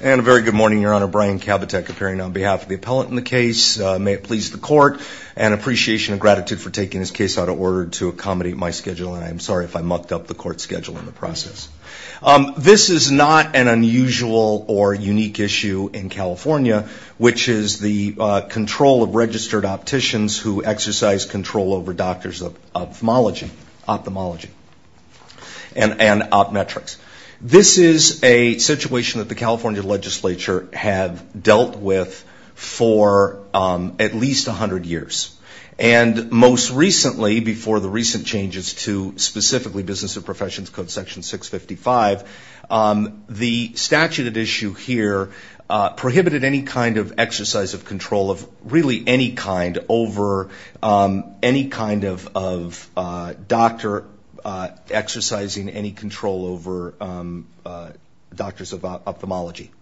And a very good morning, Your Honor. Brian Kabatek appearing on behalf of the appellant in the case. May it please the court, an appreciation of gratitude for taking this case out of order to accommodate my schedule. And I'm sorry if I mucked up the court schedule in the process. This is not an unusual or unique issue in California, which is the control of registered opticians who exercise control over doctors of ophthalmology and opmetrics. This is a situation that the California legislature have dealt with for at least 100 years. And most recently, before the recent changes to specifically business and professions code section 655, the statute at issue here prohibited any kind of exercise of control of really any kind over any kind of doctor exercising any control over doctors of ophthalmology.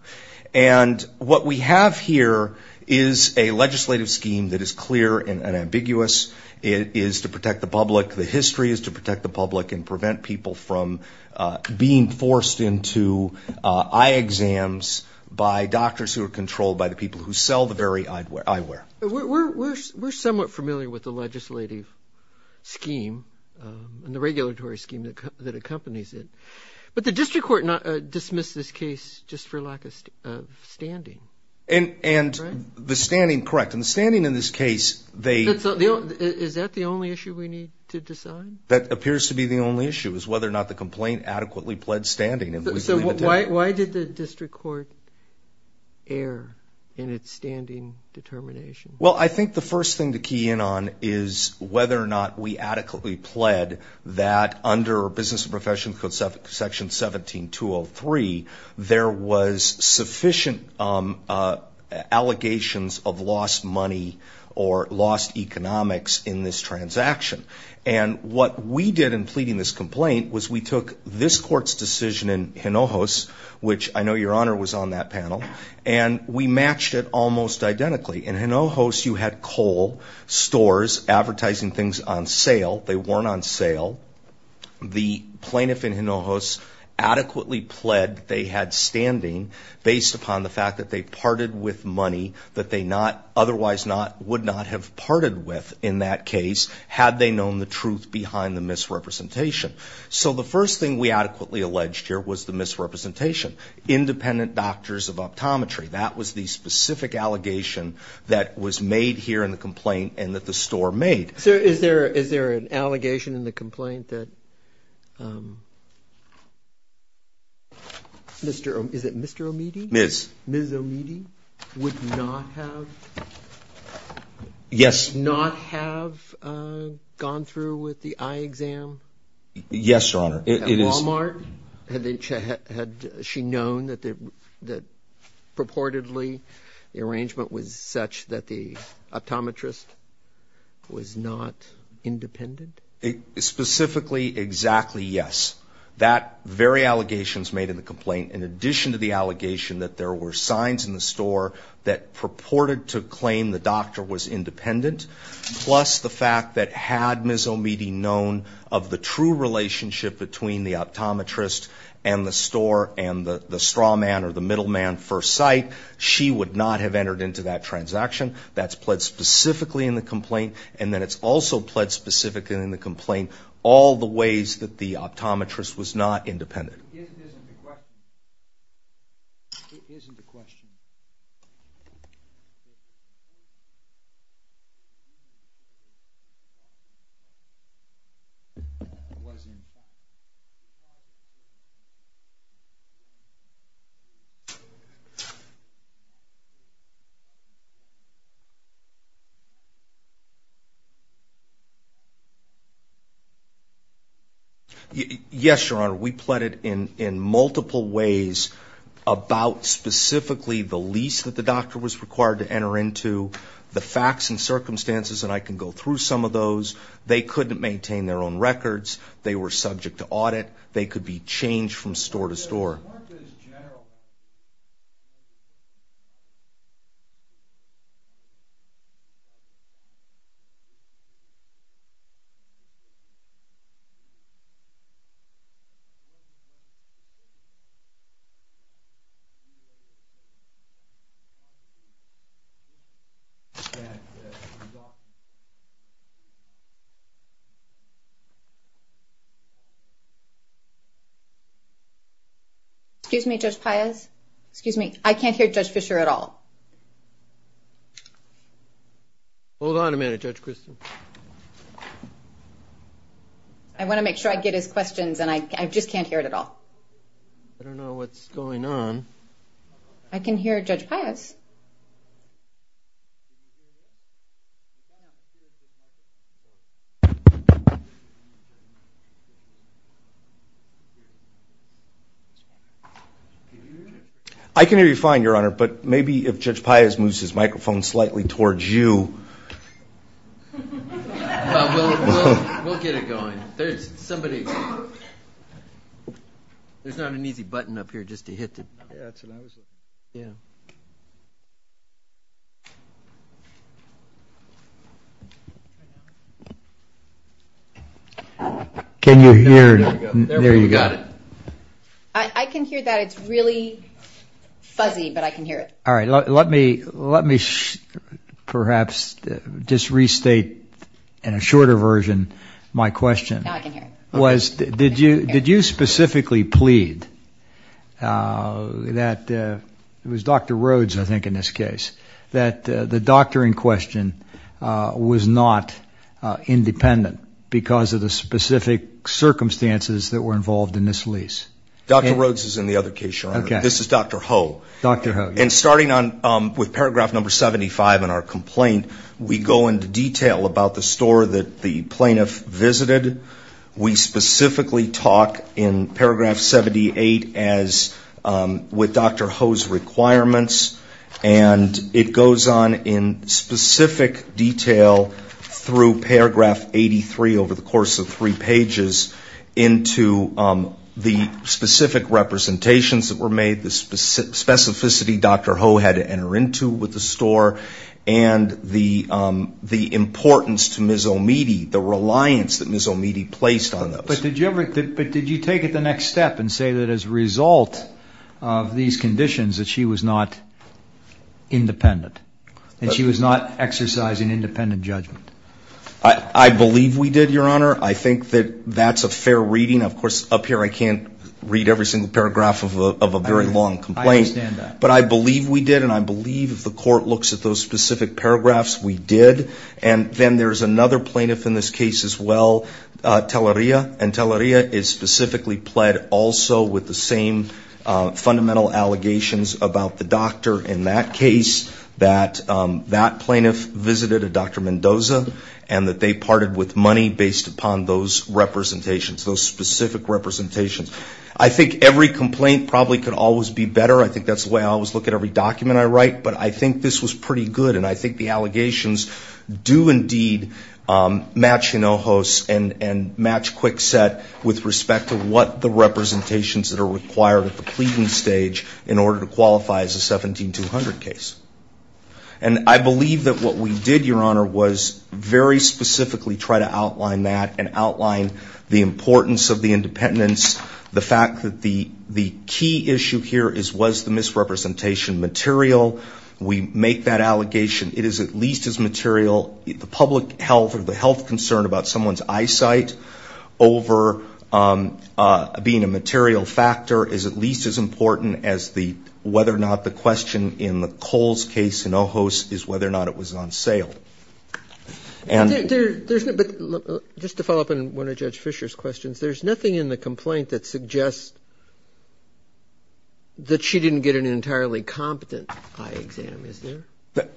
And what we have here is a legislative scheme that is clear and ambiguous. It is to protect the public. The history is to protect the public and prevent people from being forced into eye exams by doctors who are controlled by the people who sell the very eyewear. We're somewhat familiar with the legislative scheme. And the regulatory scheme that accompanies it. But the district court dismissed this case just for lack of standing. And the standing, correct. And the standing in this case, they. Is that the only issue we need to decide? That appears to be the only issue, is whether or not the complaint adequately pled standing. Why did the district court err in its standing determination? Well, I think the first thing to key in on is whether or not we adequately pled that under Business and Professions Code Section 17203, there was sufficient allegations of lost money or lost economics in this transaction. And what we did in pleading this complaint was we took this court's decision in Hinojos, which I know your honor was on that panel, and we matched it almost identically. In Hinojos, you had coal stores advertising things on sale. They weren't on sale. The plaintiff in Hinojos adequately pled they had standing based upon the fact that they parted with money that they otherwise would not have parted with in that case had they known the truth behind the misrepresentation. So the first thing we adequately alleged here was the misrepresentation. Independent doctors of optometry. That was the specific allegation that was made here in the complaint and that the store made. So is there an allegation in the complaint that Mr. Omidy? Ms. Ms. Omidy would not have gone through with the eye exam? Yes, your honor. At Walmart? Had she known that purportedly the arrangement was such that the optometrist was not independent? Specifically, exactly yes. That very allegations made in the complaint, in addition to the allegation that there were signs in the store that purported to claim the doctor was independent, plus the fact that had Ms. Omidy known of the true relationship between the optometrist and the store and the straw man or the middleman for a site, she would not have entered into that transaction. That's pled specifically in the complaint. And then it's also pled specifically in the complaint all the ways that the optometrist was not independent. Isn't the question, isn't the question, wasn't the question, wasn't the question, wasn't the question? Yes, your honor. We pled it in multiple ways about specifically the lease that the doctor was required to enter into, the facts and circumstances. And I can go through some of those. They couldn't maintain their own records. They were subject to audit. They could be changed from store to store. Excuse me, Judge Payaz. Excuse me. I can't hear Judge Fischer at all. Hold on a minute, Judge Christin. I want to make sure I get his questions, and I just can't hear it at all. I don't know what's going on. I can hear Judge Payaz. I can hear you fine, your honor. But maybe if Judge Payaz moves his microphone slightly towards you. We'll get it going. There's somebody. There's not an easy button up here just to hit it. Yeah, that's what I was looking for. Yeah. Can you hear? There you got it. I can hear that. It's really fuzzy, but I can hear it. All right, let me perhaps just restate in a shorter version my question. Now I can hear it. Did you specifically plead that it was Dr. Rhodes, I think, in this case, that the doctor in question was not independent because of the specific circumstances that were involved in this lease? Dr. Rhodes is in the other case, your honor. This is Dr. Ho. Dr. Ho. And starting with paragraph number 75 in our complaint, we go into detail about the store that the plaintiff visited. We specifically talk in paragraph 78 with Dr. Ho's requirements. And it goes on in specific detail through paragraph 83 over the course of three pages into the specific representations that were made, the specificity Dr. Ho had to enter into with the store, and the importance to Ms. O'Meady, the reliance that Ms. O'Meady placed on those. But did you take it the next step and say that as a result of these conditions that she was not independent, that she was not exercising independent judgment? I believe we did, your honor. I think that that's a fair reading. Of course, up here I can't read every single paragraph of a very long complaint. But I believe we did, and I believe if the court looks at those specific paragraphs, we did. And then there's another plaintiff in this case as well, Teleria. And Teleria is specifically pled also with the same fundamental allegations about the doctor in that case, that that plaintiff visited a Dr. Mendoza, and that they parted with money based upon those representations, those specific representations. I think every complaint probably could always be better. I think that's the way I always look at every document I write. But I think this was pretty good. And I think the allegations do indeed match Hinojos and match Kwikset with respect to what the representations that are required at the pleading stage in order to qualify as a 17-200 case. And I believe that what we did, your honor, was very specifically try to outline that and outline the importance of the independence, the fact that the key issue here was the misrepresentation material. We make that allegation. It is at least as material. The public health or the health concern about someone's eyesight over being a material factor is at least as important as whether or not the question in the Coles case, Hinojos, is whether or not it was on sale. But just to follow up on one of Judge Fisher's questions, there's nothing in the complaint that suggests that she didn't get an entirely competent eye exam, is there?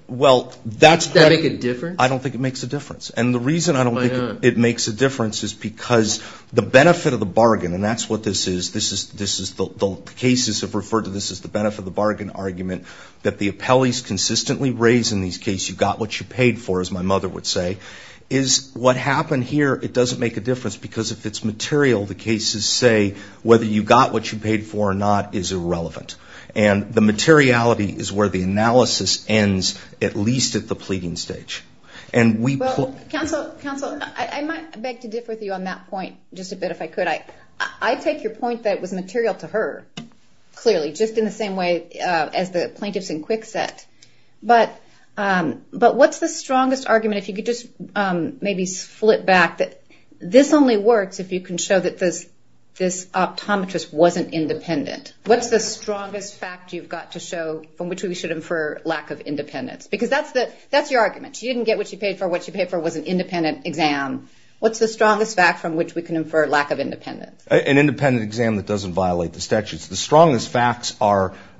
Well, that's what I think. Does that make a difference? I don't think it makes a difference. And the reason I don't think it makes a difference is because the benefit of the bargain, and that's what this is, the cases have referred to this as the benefit of the bargain argument, that the appellees consistently raise in these cases, you got what you paid for, as my mother would say, is what happened here, it doesn't make a difference. Because if it's material, the cases say whether you got what you paid for or not is irrelevant. And the materiality is where the analysis ends, at least at the pleading stage. And we put- Counsel, counsel, I might beg to differ with you on that point just a bit, if I could. I take your point that it was material to her, clearly, just in the same way as the plaintiffs in Kwikset. But what's the strongest argument, if you could just maybe flip back, that this only works if you can show that this optometrist wasn't independent. What's the strongest fact you've got to show from which we should infer lack of independence? Because that's your argument. She didn't get what she paid for. What she paid for was an independent exam. What's the strongest fact from which we can infer lack of independence? An independent exam that doesn't violate the statutes. The strongest facts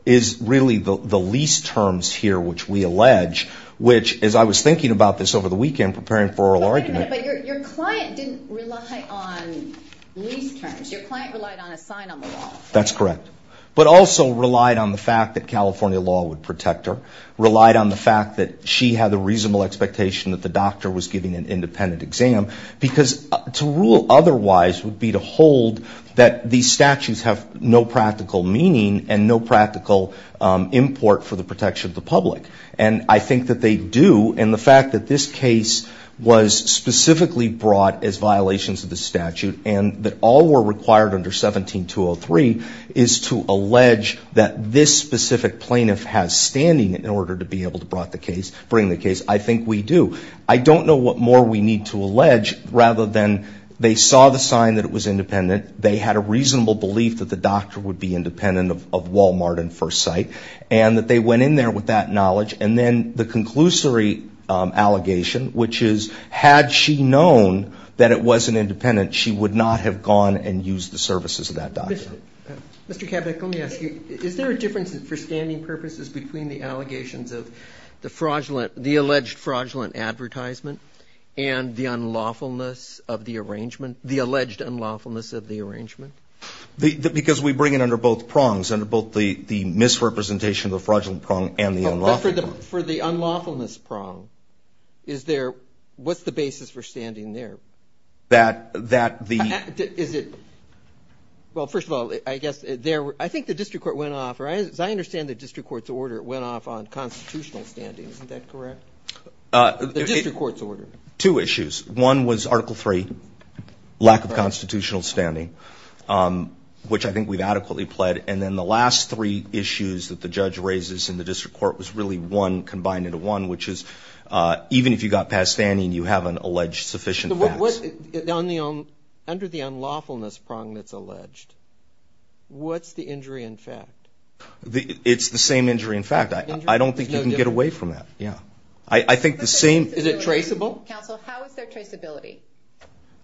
is really the lease terms here, which we allege, which, as I was thinking about this over the weekend preparing for oral argument. But your client didn't rely on lease terms. Your client relied on a sign on the wall. That's correct. But also relied on the fact that California law would protect her, relied on the fact that she had the reasonable expectation that the doctor was giving an independent exam. Because to rule otherwise would be to hold that these statutes have no practical meaning and no practical import for the protection of the public. And I think that they do. And the fact that this case was specifically brought as violations of the statute and that all were required under 17-203 is to allege that this specific plaintiff has standing in order to be able to bring the case. I think we do. I don't know what more we need to allege rather than they saw the sign that it was independent, they had a reasonable belief that the doctor would be independent of Walmart in first sight, and that they went in there with that knowledge. And then the conclusory allegation, which is, had she known that it wasn't independent, she would not have gone and used the services of that doctor. Mr. Kabat, let me ask you, is there a difference for standing purposes between the allegations of the fraudulent, the alleged fraudulent advertisement and the unlawfulness of the arrangement, the alleged unlawfulness of the arrangement? Because we bring it under both prongs, under both the misrepresentation of the fraudulent prong and the unlawfulness prong. But for the unlawfulness prong, what's the basis for standing there? Well, first of all, I think the district court went off, or as I understand the district court's order, it went off on constitutional standing. Isn't that correct? The district court's order. Two issues. One was Article III, lack of constitutional standing, which I think we've adequately pled. And then the last three issues that the judge raises in the district court was really one combined into one, which is even if you got past standing, you haven't alleged sufficient facts. Under the unlawfulness prong that's alleged, what's the injury in fact? It's the same injury in fact. I don't think you can get away from that. I think the same. Is it traceable? Counsel, how is there traceability?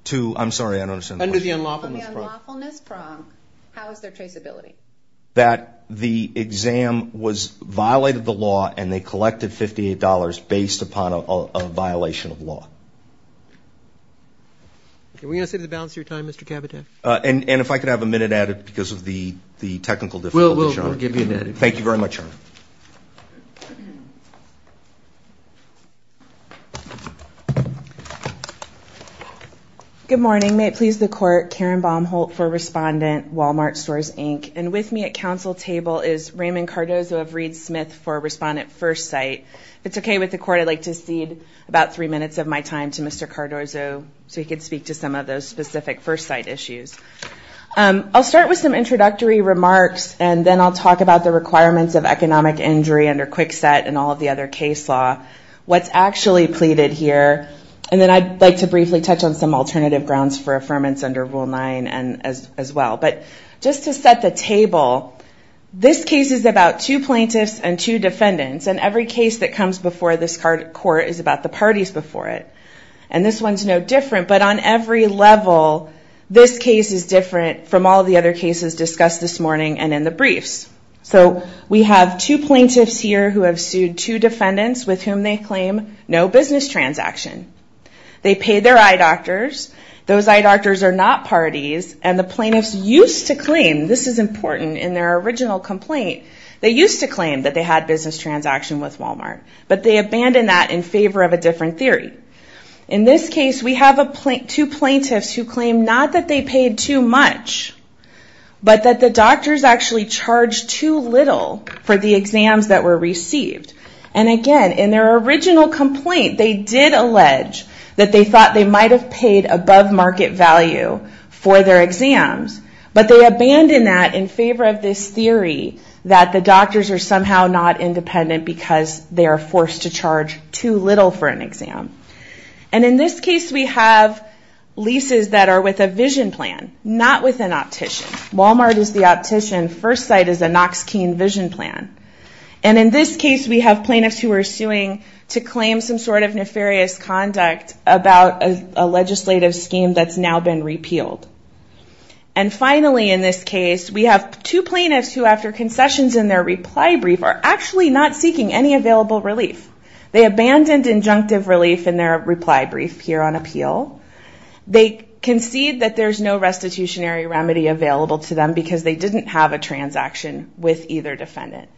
To, I'm sorry, I don't understand the question. Under the unlawfulness prong, how is there traceability? That the exam violated the law, and they collected $58 based upon a violation of law. Are we going to set the balance of your time, Mr. Caviteff? And if I could have a minute added because of the technical difficulty, Your Honor. We'll give you an edit. Thank you very much, Your Honor. Good morning. May it please the court, Karen Baumholt for Respondent, Walmart Stores, Inc. And with me at counsel table is Raymond Cardozo of Reed Smith for Respondent First Sight. If it's OK with the court, I'd like to cede about three minutes of my time to Mr. Cardozo so he could speak to some of those specific first sight issues. I'll start with some introductory remarks, and then I'll talk about the requirements of economic injury under Kwikset and all of the other case law. What's actually pleaded here, and then I'd like to briefly touch on some alternative grounds for affirmance under Rule 9 as well. But just to set the table, this case is about two plaintiffs and two defendants. And every case that comes before this court is about the parties before it. And this one's no different. But on every level, this case is different from all the other cases discussed this morning and in the briefs. So we have two plaintiffs here who have sued two defendants with whom they claim no business transaction. They pay their eye doctors. Those eye doctors are not parties. And the plaintiffs used to claim, this is important, in their original complaint, they used to claim that they had business transaction with Walmart. But they abandoned that in favor of a different theory. In this case, we have two plaintiffs who claim not that they paid too much, but that the doctors actually charged too little for the exams that were received. And again, in their original complaint, they did allege that they thought they might have paid above market value for their exams. But they abandoned that in favor of this theory that the doctors are somehow not independent because they are forced to charge too little for an exam. And in this case, we have leases that are with a vision plan, not with an optician. Walmart is the optician. First Sight is a Noxkeen vision plan. And in this case, we have plaintiffs who are suing to claim some sort of nefarious conduct about a legislative scheme that's now been repealed. And finally, in this case, we have two plaintiffs who after concessions in their reply brief are actually not seeking any available relief. They abandoned injunctive relief in their reply brief here on appeal. They concede that there's no restitutionary remedy available to them because they didn't have a transaction with either defendant.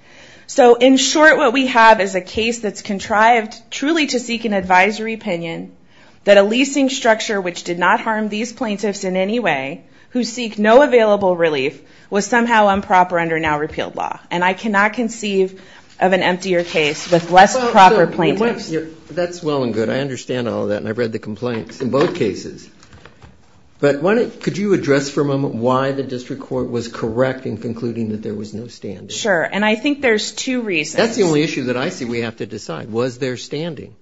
So in short, what we have is a case that's contrived truly to seek an advisory opinion that a leasing structure which did not harm these plaintiffs in any way who seek no available relief was somehow improper under now repealed law. And I cannot conceive of an emptier case with less proper plaintiffs. That's well and good. I understand all of that. And I've read the complaints in both cases. But could you address for a moment why the district court was correct in concluding that there was no standing? Sure, and I think there's two reasons. That's the only issue that I see we have to decide. Was there standing?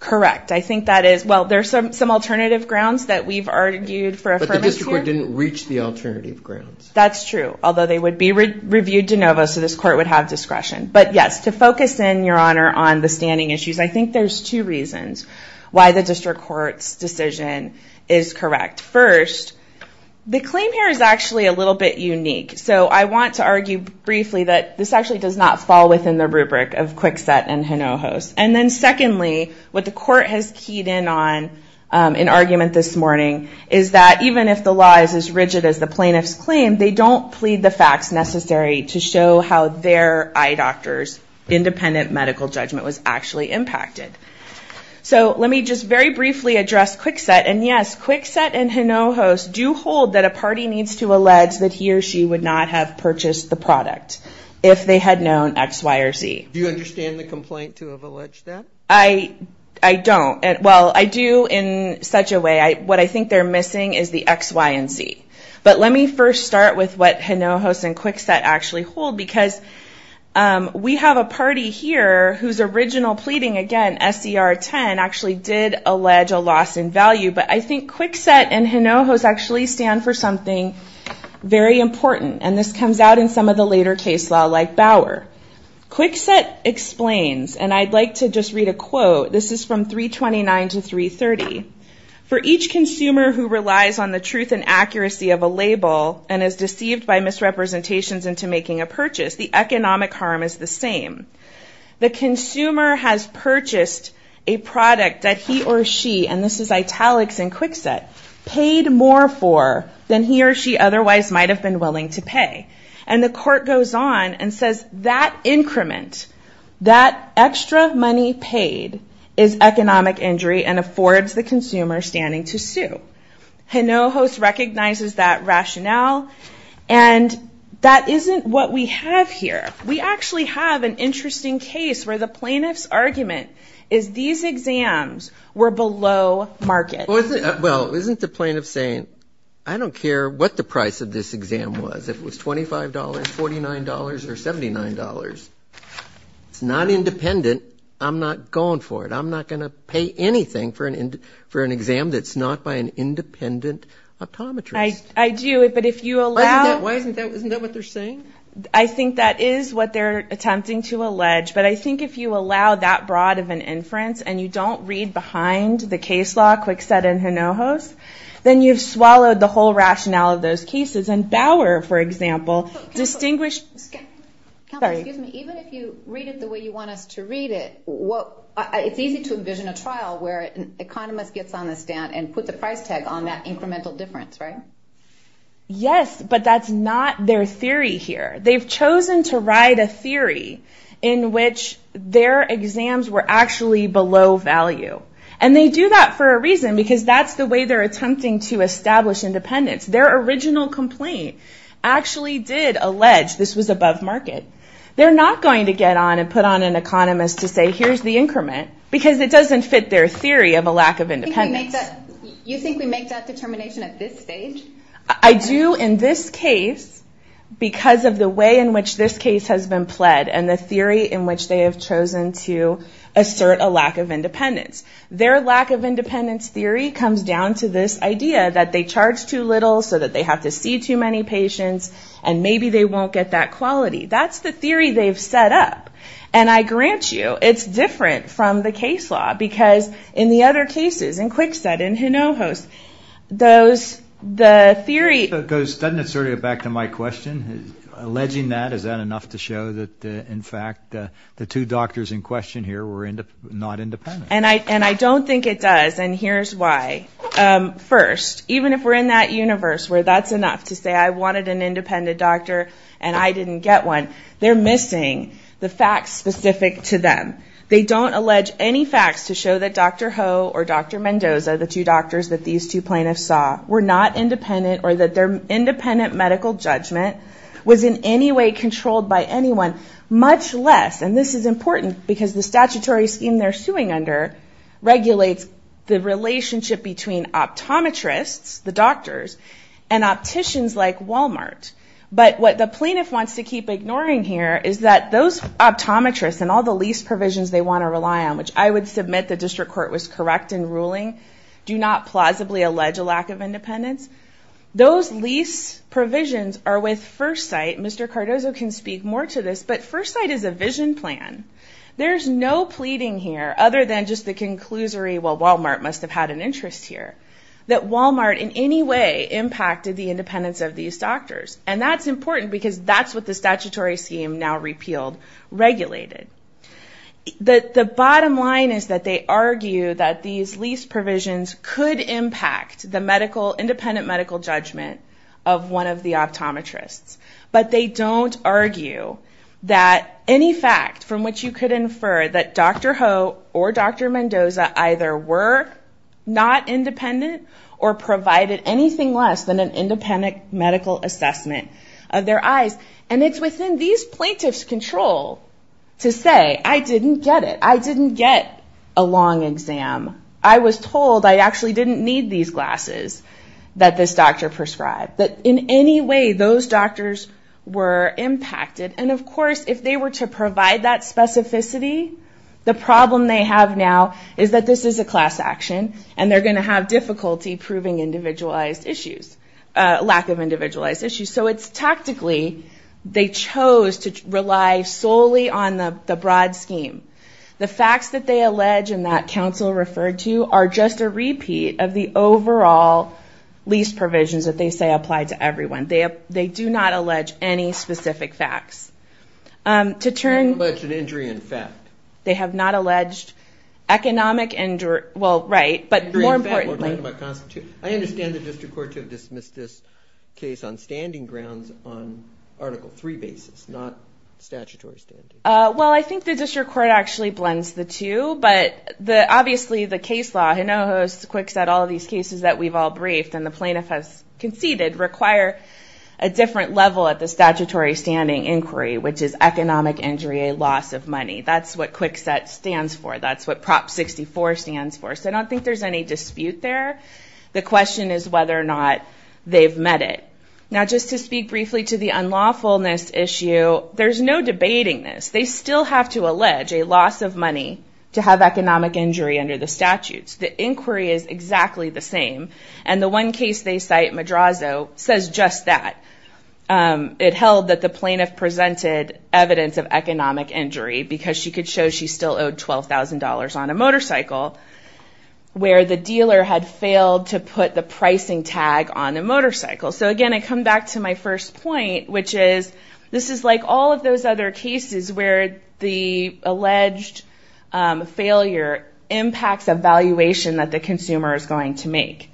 Correct, I think that is. Well, there's some alternative grounds that we've argued for affirmation. But the district court didn't reach the alternative grounds. That's true, although they would be reviewed de novo so this court would have discretion. But yes, to focus in, Your Honor, on the standing issues, I think there's two reasons why the district court's decision is correct. First, the claim here is actually a little bit unique. So I want to argue briefly that this actually does not fall within the rubric of Kwikset and Hinojos. And then secondly, what the court has keyed in on in argument this morning, is that even if the law is as rigid as the plaintiff's claim, they don't plead the facts necessary to show how their eye doctor's independent medical judgment was actually impacted. So let me just very briefly address Kwikset. And yes, Kwikset and Hinojos do hold that a party needs to allege that he or she would not have purchased the product if they had known X, Y, or Z. Do you understand the complaint to have alleged that? I don't. Well, I do in such a way. What I think they're missing is the X, Y, and Z. But let me first start with what Hinojos and Kwikset actually hold, because we have a party here whose original pleading, again, SCR 10, actually did allege a loss in value. But I think Kwikset and Hinojos actually stand for something very important. And this comes out in some of the later case law like Bauer. Kwikset explains, and I'd like to just read a quote. This is from 329 to 330. For each consumer who relies on the truth and accuracy of a label and is deceived by misrepresentations into making a purchase, the economic harm is the same. The consumer has purchased a product that he or she, and this is italics in Kwikset, paid more for than he or she otherwise might have been willing to pay. And the court goes on and says that increment, that extra money paid, is economic injury and affords the consumer standing to sue. Hinojos recognizes that rationale. And that isn't what we have here. We actually have an interesting case where the plaintiff's argument is these exams were below market. Well, isn't the plaintiff saying, I don't care what the price of this exam was. If it was $25, $49, or $79, it's not independent. I'm not going for it. I'm not going to pay anything for an exam that's not by an independent optometrist. I do, but if you allow- Isn't that what they're saying? I think that is what they're attempting to allege. But I think if you allow that broad of an inference and you don't read behind the case law, Kwikset and Hinojos, then you've swallowed the whole rationale of those cases. And Bauer, for example, distinguished- Excuse me, even if you read it the way you want us to read it, it's easy to envision a trial where an economist gets on the stand and put the price tag on that incremental difference, right? Yes, but that's not their theory here. They've chosen to write a theory in which their exams were actually below value. And they do that for a reason because that's the way they're attempting to establish independence. Their original complaint actually did allege this was above market. They're not going to get on and put on an economist to say, here's the increment because it doesn't fit their theory of a lack of independence. You think we make that determination at this stage? I do in this case because of the way and the theory in which they have chosen to assert a lack of independence. Their lack of independence theory comes down to this idea that they charge too little so that they have to see too many patients and maybe they won't get that quality. That's the theory they've set up. And I grant you, it's different from the case law because in the other cases, in Kwikset, in Hinojos, those, the theory- It goes, doesn't it sort of go back to my question? Alleging that, is that enough to show that in fact the two doctors in question here were not independent? And I don't think it does and here's why. First, even if we're in that universe where that's enough to say I wanted an independent doctor and I didn't get one, they're missing the facts specific to them. They don't allege any facts to show that Dr. Ho or Dr. Mendoza, the two doctors that these two plaintiffs saw, were not independent or that their independent medical judgment was in any way controlled by anyone, much less, and this is important because the statutory scheme they're suing under regulates the relationship between optometrists, the doctors, and opticians like Walmart. But what the plaintiff wants to keep ignoring here is that those optometrists and all the lease provisions they want to rely on, which I would submit the district court was correct in ruling, do not plausibly allege a lack of independence. Those lease provisions are with First Sight. Mr. Cardozo can speak more to this, but First Sight is a vision plan. There's no pleading here, other than just the conclusory, well, Walmart must have had an interest here, that Walmart in any way impacted the independence of these doctors. And that's important because that's what the statutory scheme now repealed, regulated. The bottom line is that they argue that these lease provisions could impact the independent medical judgment of one of the optometrists, but they don't argue that any fact from which you could infer that Dr. Ho or Dr. Mendoza either were not independent or provided anything less than an independent medical assessment of their eyes. And it's within these plaintiff's control to say, I didn't get it. I didn't get a long exam. I was told I actually didn't need these glasses that this doctor prescribed. But in any way, those doctors were impacted. And of course, if they were to provide that specificity, the problem they have now is that this is a class action and they're gonna have difficulty proving individualized issues, lack of individualized issues. So it's tactically, they chose to rely solely on the broad scheme. The facts that they allege and that council referred to are just a repeat of the overall lease provisions that they say apply to everyone. They do not allege any specific facts. To turn- They don't allege an injury in fact. They have not alleged economic injury. Well, right. But more importantly- Injury in fact, we're talking about constitution. I understand the district court to have dismissed this case on standing grounds on article three basis, not statutory standard. Well, I think the district court actually blends the two, but obviously the case law, I know it was quick set all of these cases that we've all briefed and the plaintiff has conceded require a different level at the statutory standing inquiry, which is economic injury, a loss of money. That's what quick set stands for. That's what prop 64 stands for. So I don't think there's any dispute there. The question is whether or not they've met it. Now, just to speak briefly to the unlawfulness issue, there's no debating this. They still have to allege a loss of money to have economic injury under the statutes. The inquiry is exactly the same. And the one case they cite, Madrazo, says just that. It held that the plaintiff presented evidence of economic injury because she could show she still owed $12,000 on a motorcycle where the dealer had failed to put the pricing tag on the motorcycle. So again, I come back to my first point, which is this is like all of those other cases where the alleged failure impacts a valuation that the consumer is going to make.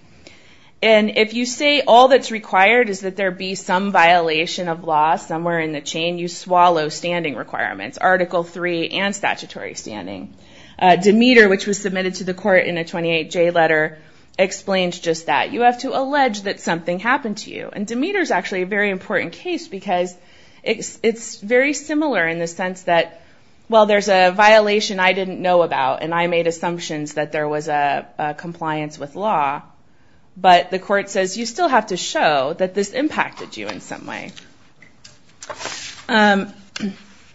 And if you say all that's required is that there be some violation of law somewhere in the chain, you swallow standing requirements, Article III and statutory standing. Demeter, which was submitted to the court in a 28J letter, explains just that. You have to allege that something happened to you. And Demeter's actually a very important case because it's very similar in the sense that, well, there's a violation I didn't know about and I made assumptions that there was a compliance with law. But the court says you still have to show that this impacted you in some way.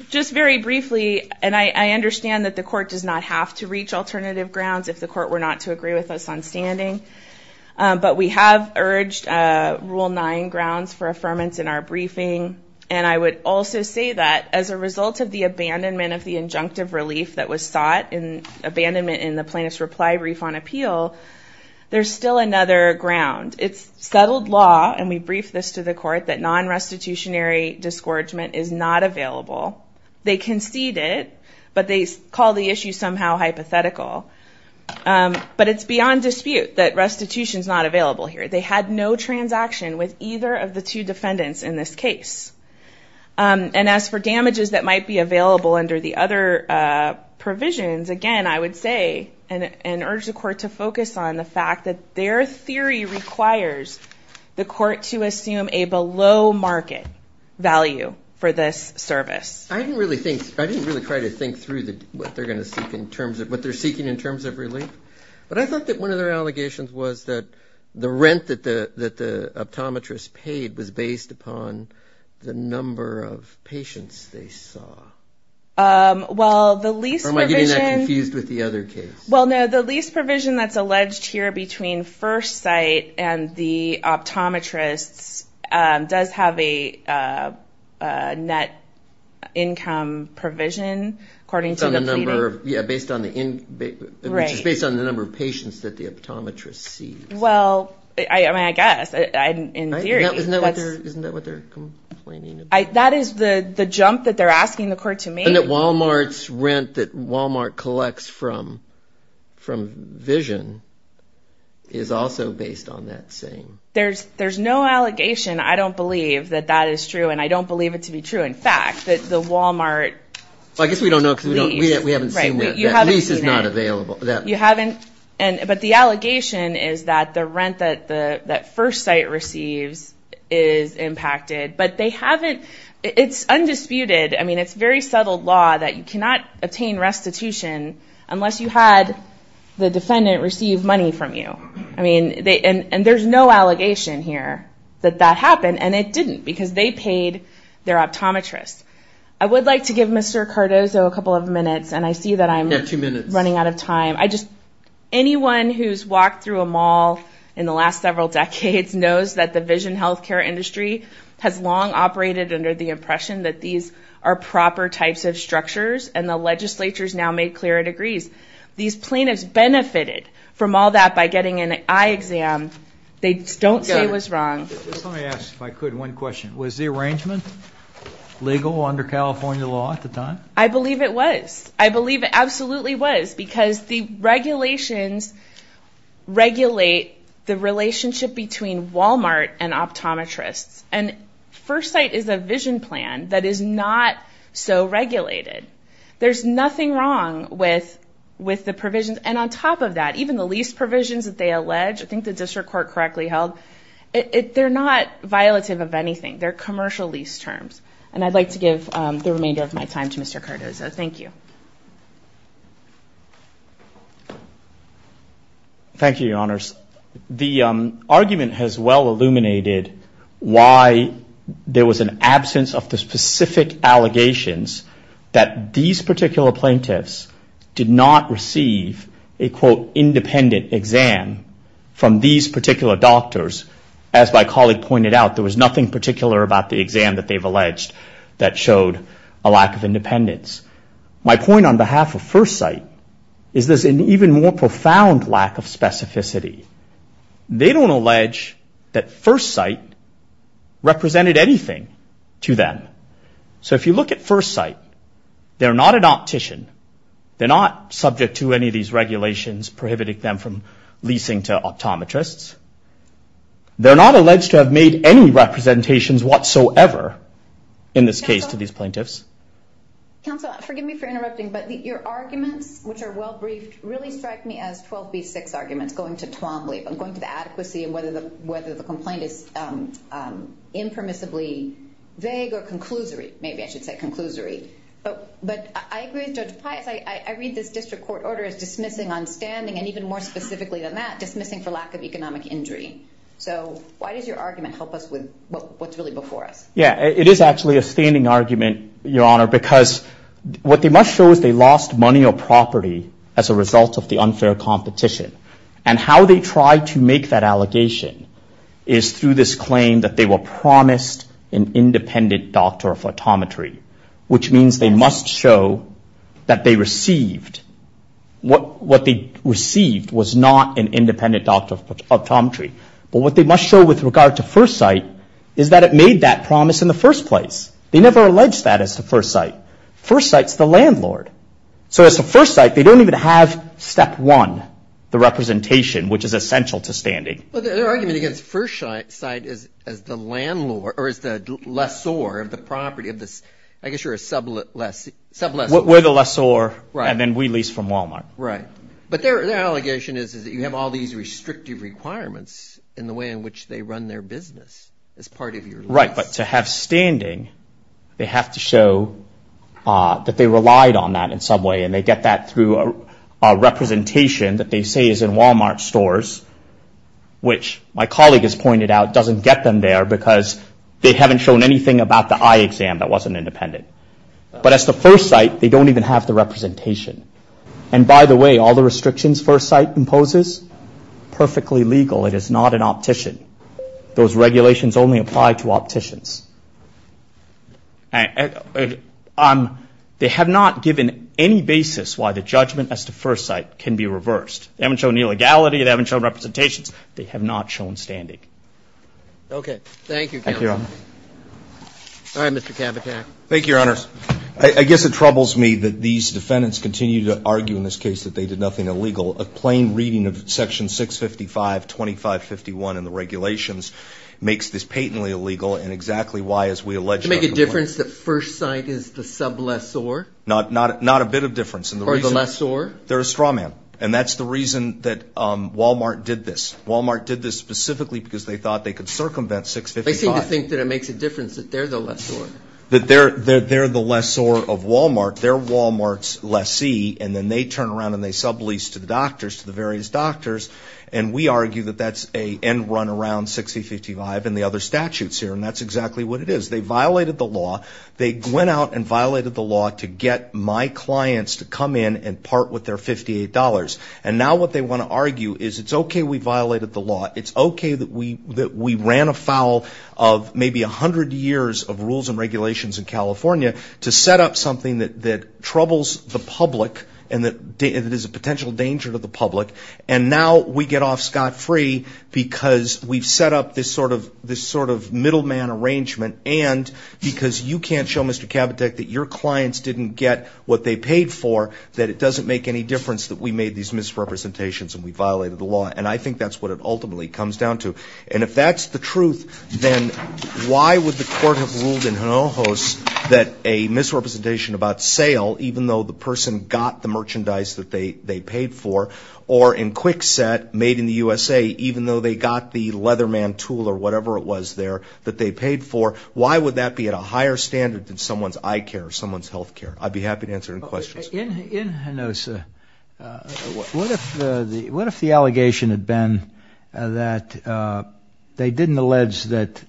Just very briefly, and I understand that the court does not have to reach alternative grounds if the court were not to agree with us on standing, but we have urged Rule 9 grounds for affirmance in our briefing. And I would also say that as a result of the abandonment of the injunctive relief that was sought in abandonment in the plaintiff's reply brief on appeal, there's still another ground. It's settled law, and we brief this to the court, that non-restitutionary discouragement is not available. They conceded, but they call the issue somehow hypothetical. But it's beyond dispute that restitution's not available here. They had no transaction And as for damages that might be available under the other provisions, again, I would say, and urge the court to focus on the fact that their theory requires the court to assume a below-market value for this service. I didn't really think, I didn't really try to think through what they're seeking in terms of relief, but I thought that one of their allegations was that the rent that the optometrist paid was based upon the number of patients they saw. Well, the lease provision- Or am I getting that confused with the other case? Well, no, the lease provision that's alleged here between First Sight and the optometrists does have a net income provision, according to the pleading. Yeah, based on the, which is based on the number of patients that the optometrist sees. Well, I mean, I guess, in theory. Isn't that what they're complaining about? That is the jump that they're asking the court to make. And that Walmart's rent that Walmart collects from Vision is also based on that same- There's no allegation, I don't believe, that that is true, and I don't believe it to be true. In fact, that the Walmart lease- Well, I guess we don't know, because we haven't seen that. Right, you haven't seen it. That lease is not available. You haven't, but the allegation is that the rent that First Sight receives is impacted, but they haven't, it's undisputed. I mean, it's very subtle law that you cannot obtain restitution unless you had the defendant receive money from you. I mean, and there's no allegation here that that happened, and it didn't, because they paid their optometrists. I would like to give Mr. Cardozo a couple of minutes, and I see that I'm- You have two minutes. Running out of time. Anyone who's walked through a mall in the last several decades knows that the Vision healthcare industry has long operated under the impression that these are proper types of structures, and the legislature's now made clear it agrees. These plaintiffs benefited from all that by getting an eye exam. They don't say it was wrong. Just let me ask, if I could, one question. Was the arrangement legal under California law at the time? I believe it was. I believe it absolutely was, because the regulations regulate the relationship between Walmart and optometrists, and First Sight is a Vision plan that is not so regulated. There's nothing wrong with the provisions, and on top of that, even the lease provisions that they allege, I think the district court correctly held, they're not violative of anything. They're commercial lease terms, and I'd like to give the remainder of my time Thank you. Thank you, your honors. The argument has well illuminated why there was an absence of the specific allegations that these particular plaintiffs did not receive a, quote, independent exam from these particular doctors. As my colleague pointed out, there was nothing particular about the exam that they've alleged that showed a lack of independence. My point on behalf of First Sight is there's an even more profound lack of specificity. They don't allege that First Sight represented anything to them. So if you look at First Sight, they're not an optician. They're not subject to any of these regulations prohibiting them from leasing to optometrists. They're not alleged to have made any representations whatsoever in this case to these plaintiffs. Counsel, forgive me for interrupting, but your arguments, which are well-briefed, really strike me as 12B6 arguments, going to Twombly, but going to the adequacy and whether the complaint is impermissibly vague or conclusory, maybe I should say conclusory. But I agree with Judge Pius. I read this district court order as dismissing on standing, and even more specifically than that, dismissing for lack of economic injury. So why does your argument help us with what's really before us? Yeah, it is actually a standing argument, your honor, because what they must show is they lost money or property as a result of the unfair competition. And how they tried to make that allegation is through this claim that they were promised an independent doctor of optometry, which means they must show that they received, what they received was not an independent doctor of optometry but what they must show with regard to First Sight is that it made that promise in the first place. They never alleged that as to First Sight. First Sight's the landlord. So as to First Sight, they don't even have step one, the representation, which is essential to standing. But their argument against First Sight is as the landlord or as the lessor of the property of this, I guess you're a sub-lessor. We're the lessor and then we lease from Walmart. Right, but their allegation is that you have all these restrictive requirements in the way in which they run their business as part of your lease. But to have standing, they have to show that they relied on that in some way and they get that through a representation that they say is in Walmart stores, which my colleague has pointed out doesn't get them there because they haven't shown anything about the eye exam that wasn't independent. But as to First Sight, they don't even have the representation. And by the way, all the restrictions First Sight imposes, perfectly legal, it is not an optician. Those regulations only apply to opticians. They have not given any basis why the judgment as to First Sight can be reversed. They haven't shown illegality, they haven't shown representations, they have not shown standing. Okay, thank you, Counselor. Thank you, Your Honor. All right, Mr. Cabotac. Thank you, Your Honors. I guess it troubles me that these defendants continue to argue in this case that they did nothing illegal. A plain reading of Section 655, 2551 and the regulations makes this patently illegal and exactly why, as we allege- To make a difference that First Sight is the sub-lessor? Not a bit of difference. Or the lessor? They're a straw man. And that's the reason that Walmart did this. Walmart did this specifically because they thought they could circumvent 655. They seem to think that it makes a difference that they're the lessor. That they're the lessor of Walmart. They're Walmart's lessee. And then they turn around and they sublease to the doctors, to the various doctors. And we argue that that's a end run around 6055 and the other statutes here. And that's exactly what it is. They violated the law. They went out and violated the law to get my clients to come in and part with their $58. And now what they want to argue is, it's okay we violated the law. It's okay that we ran afoul of maybe a hundred years of rules and regulations in California to set up something that troubles the public and that is a potential danger to the public. And now we get off scot-free because we've set up this sort of middleman arrangement. And because you can't show Mr. Kabatek that your clients didn't get what they paid for, that it doesn't make any difference that we made these misrepresentations and we violated the law. And I think that's what it ultimately comes down to. And if that's the truth, then why would the court have ruled in Hinojos that a misrepresentation about sale, even though the person got the merchandise that they paid for, or in Kwikset made in the USA, even though they got the Leatherman tool or whatever it was there that they paid for, why would that be at a higher standard than someone's eye care or someone's healthcare? I'd be happy to answer any questions. In Hinojos, what if the allegation had been that they didn't allege that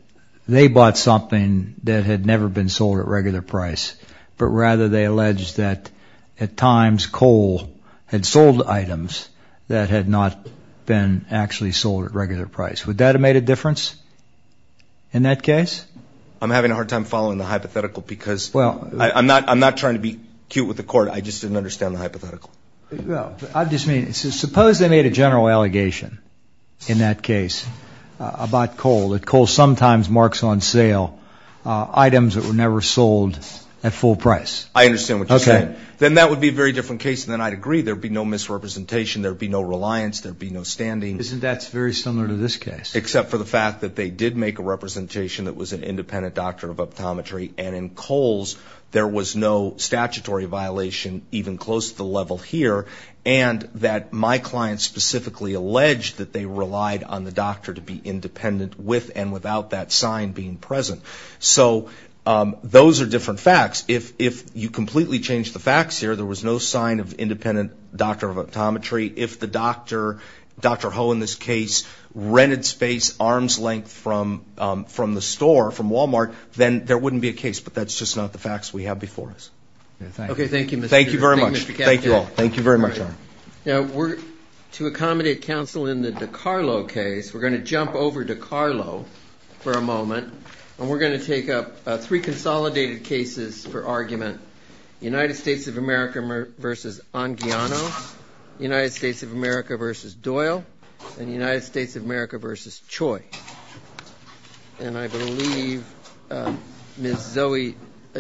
they bought something that had never been sold at regular price, but rather they alleged that at times coal had sold items that had not been actually sold at regular price. Would that have made a difference in that case? I'm having a hard time following the hypothetical because I'm not trying to be cute with the court. I just didn't understand the hypothetical. Well, I just mean, suppose they made a general allegation in that case about coal, that coal sometimes marks on sale items that were never sold at full price. I understand what you're saying. Then that would be a very different case than I'd agree, there'd be no misrepresentation, there'd be no reliance, there'd be no standing. Isn't that very similar to this case? Except for the fact that they did make a representation that was an independent doctor of optometry, and in coals, there was no statutory violation even close to the level here, and that my client specifically alleged that they relied on the doctor to be independent with and without that sign being present. So those are different facts. If you completely change the facts here, there was no sign of independent doctor of optometry. If the doctor, Dr. Ho in this case, rented space arm's length from the store, from Walmart, then there wouldn't be a case, but that's just not the facts we have before us. Okay, thank you, Mr. Caput. Thank you very much. Thank you all. Thank you very much. we're gonna jump over DiCarlo for a moment, and we're gonna take up three consolidated cases for argument, United States of America versus Anguiano, United States of America versus Doyle, and United States of America versus Choi. And I believe Ms. Zoe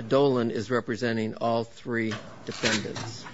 Dolan is representing all three defendants.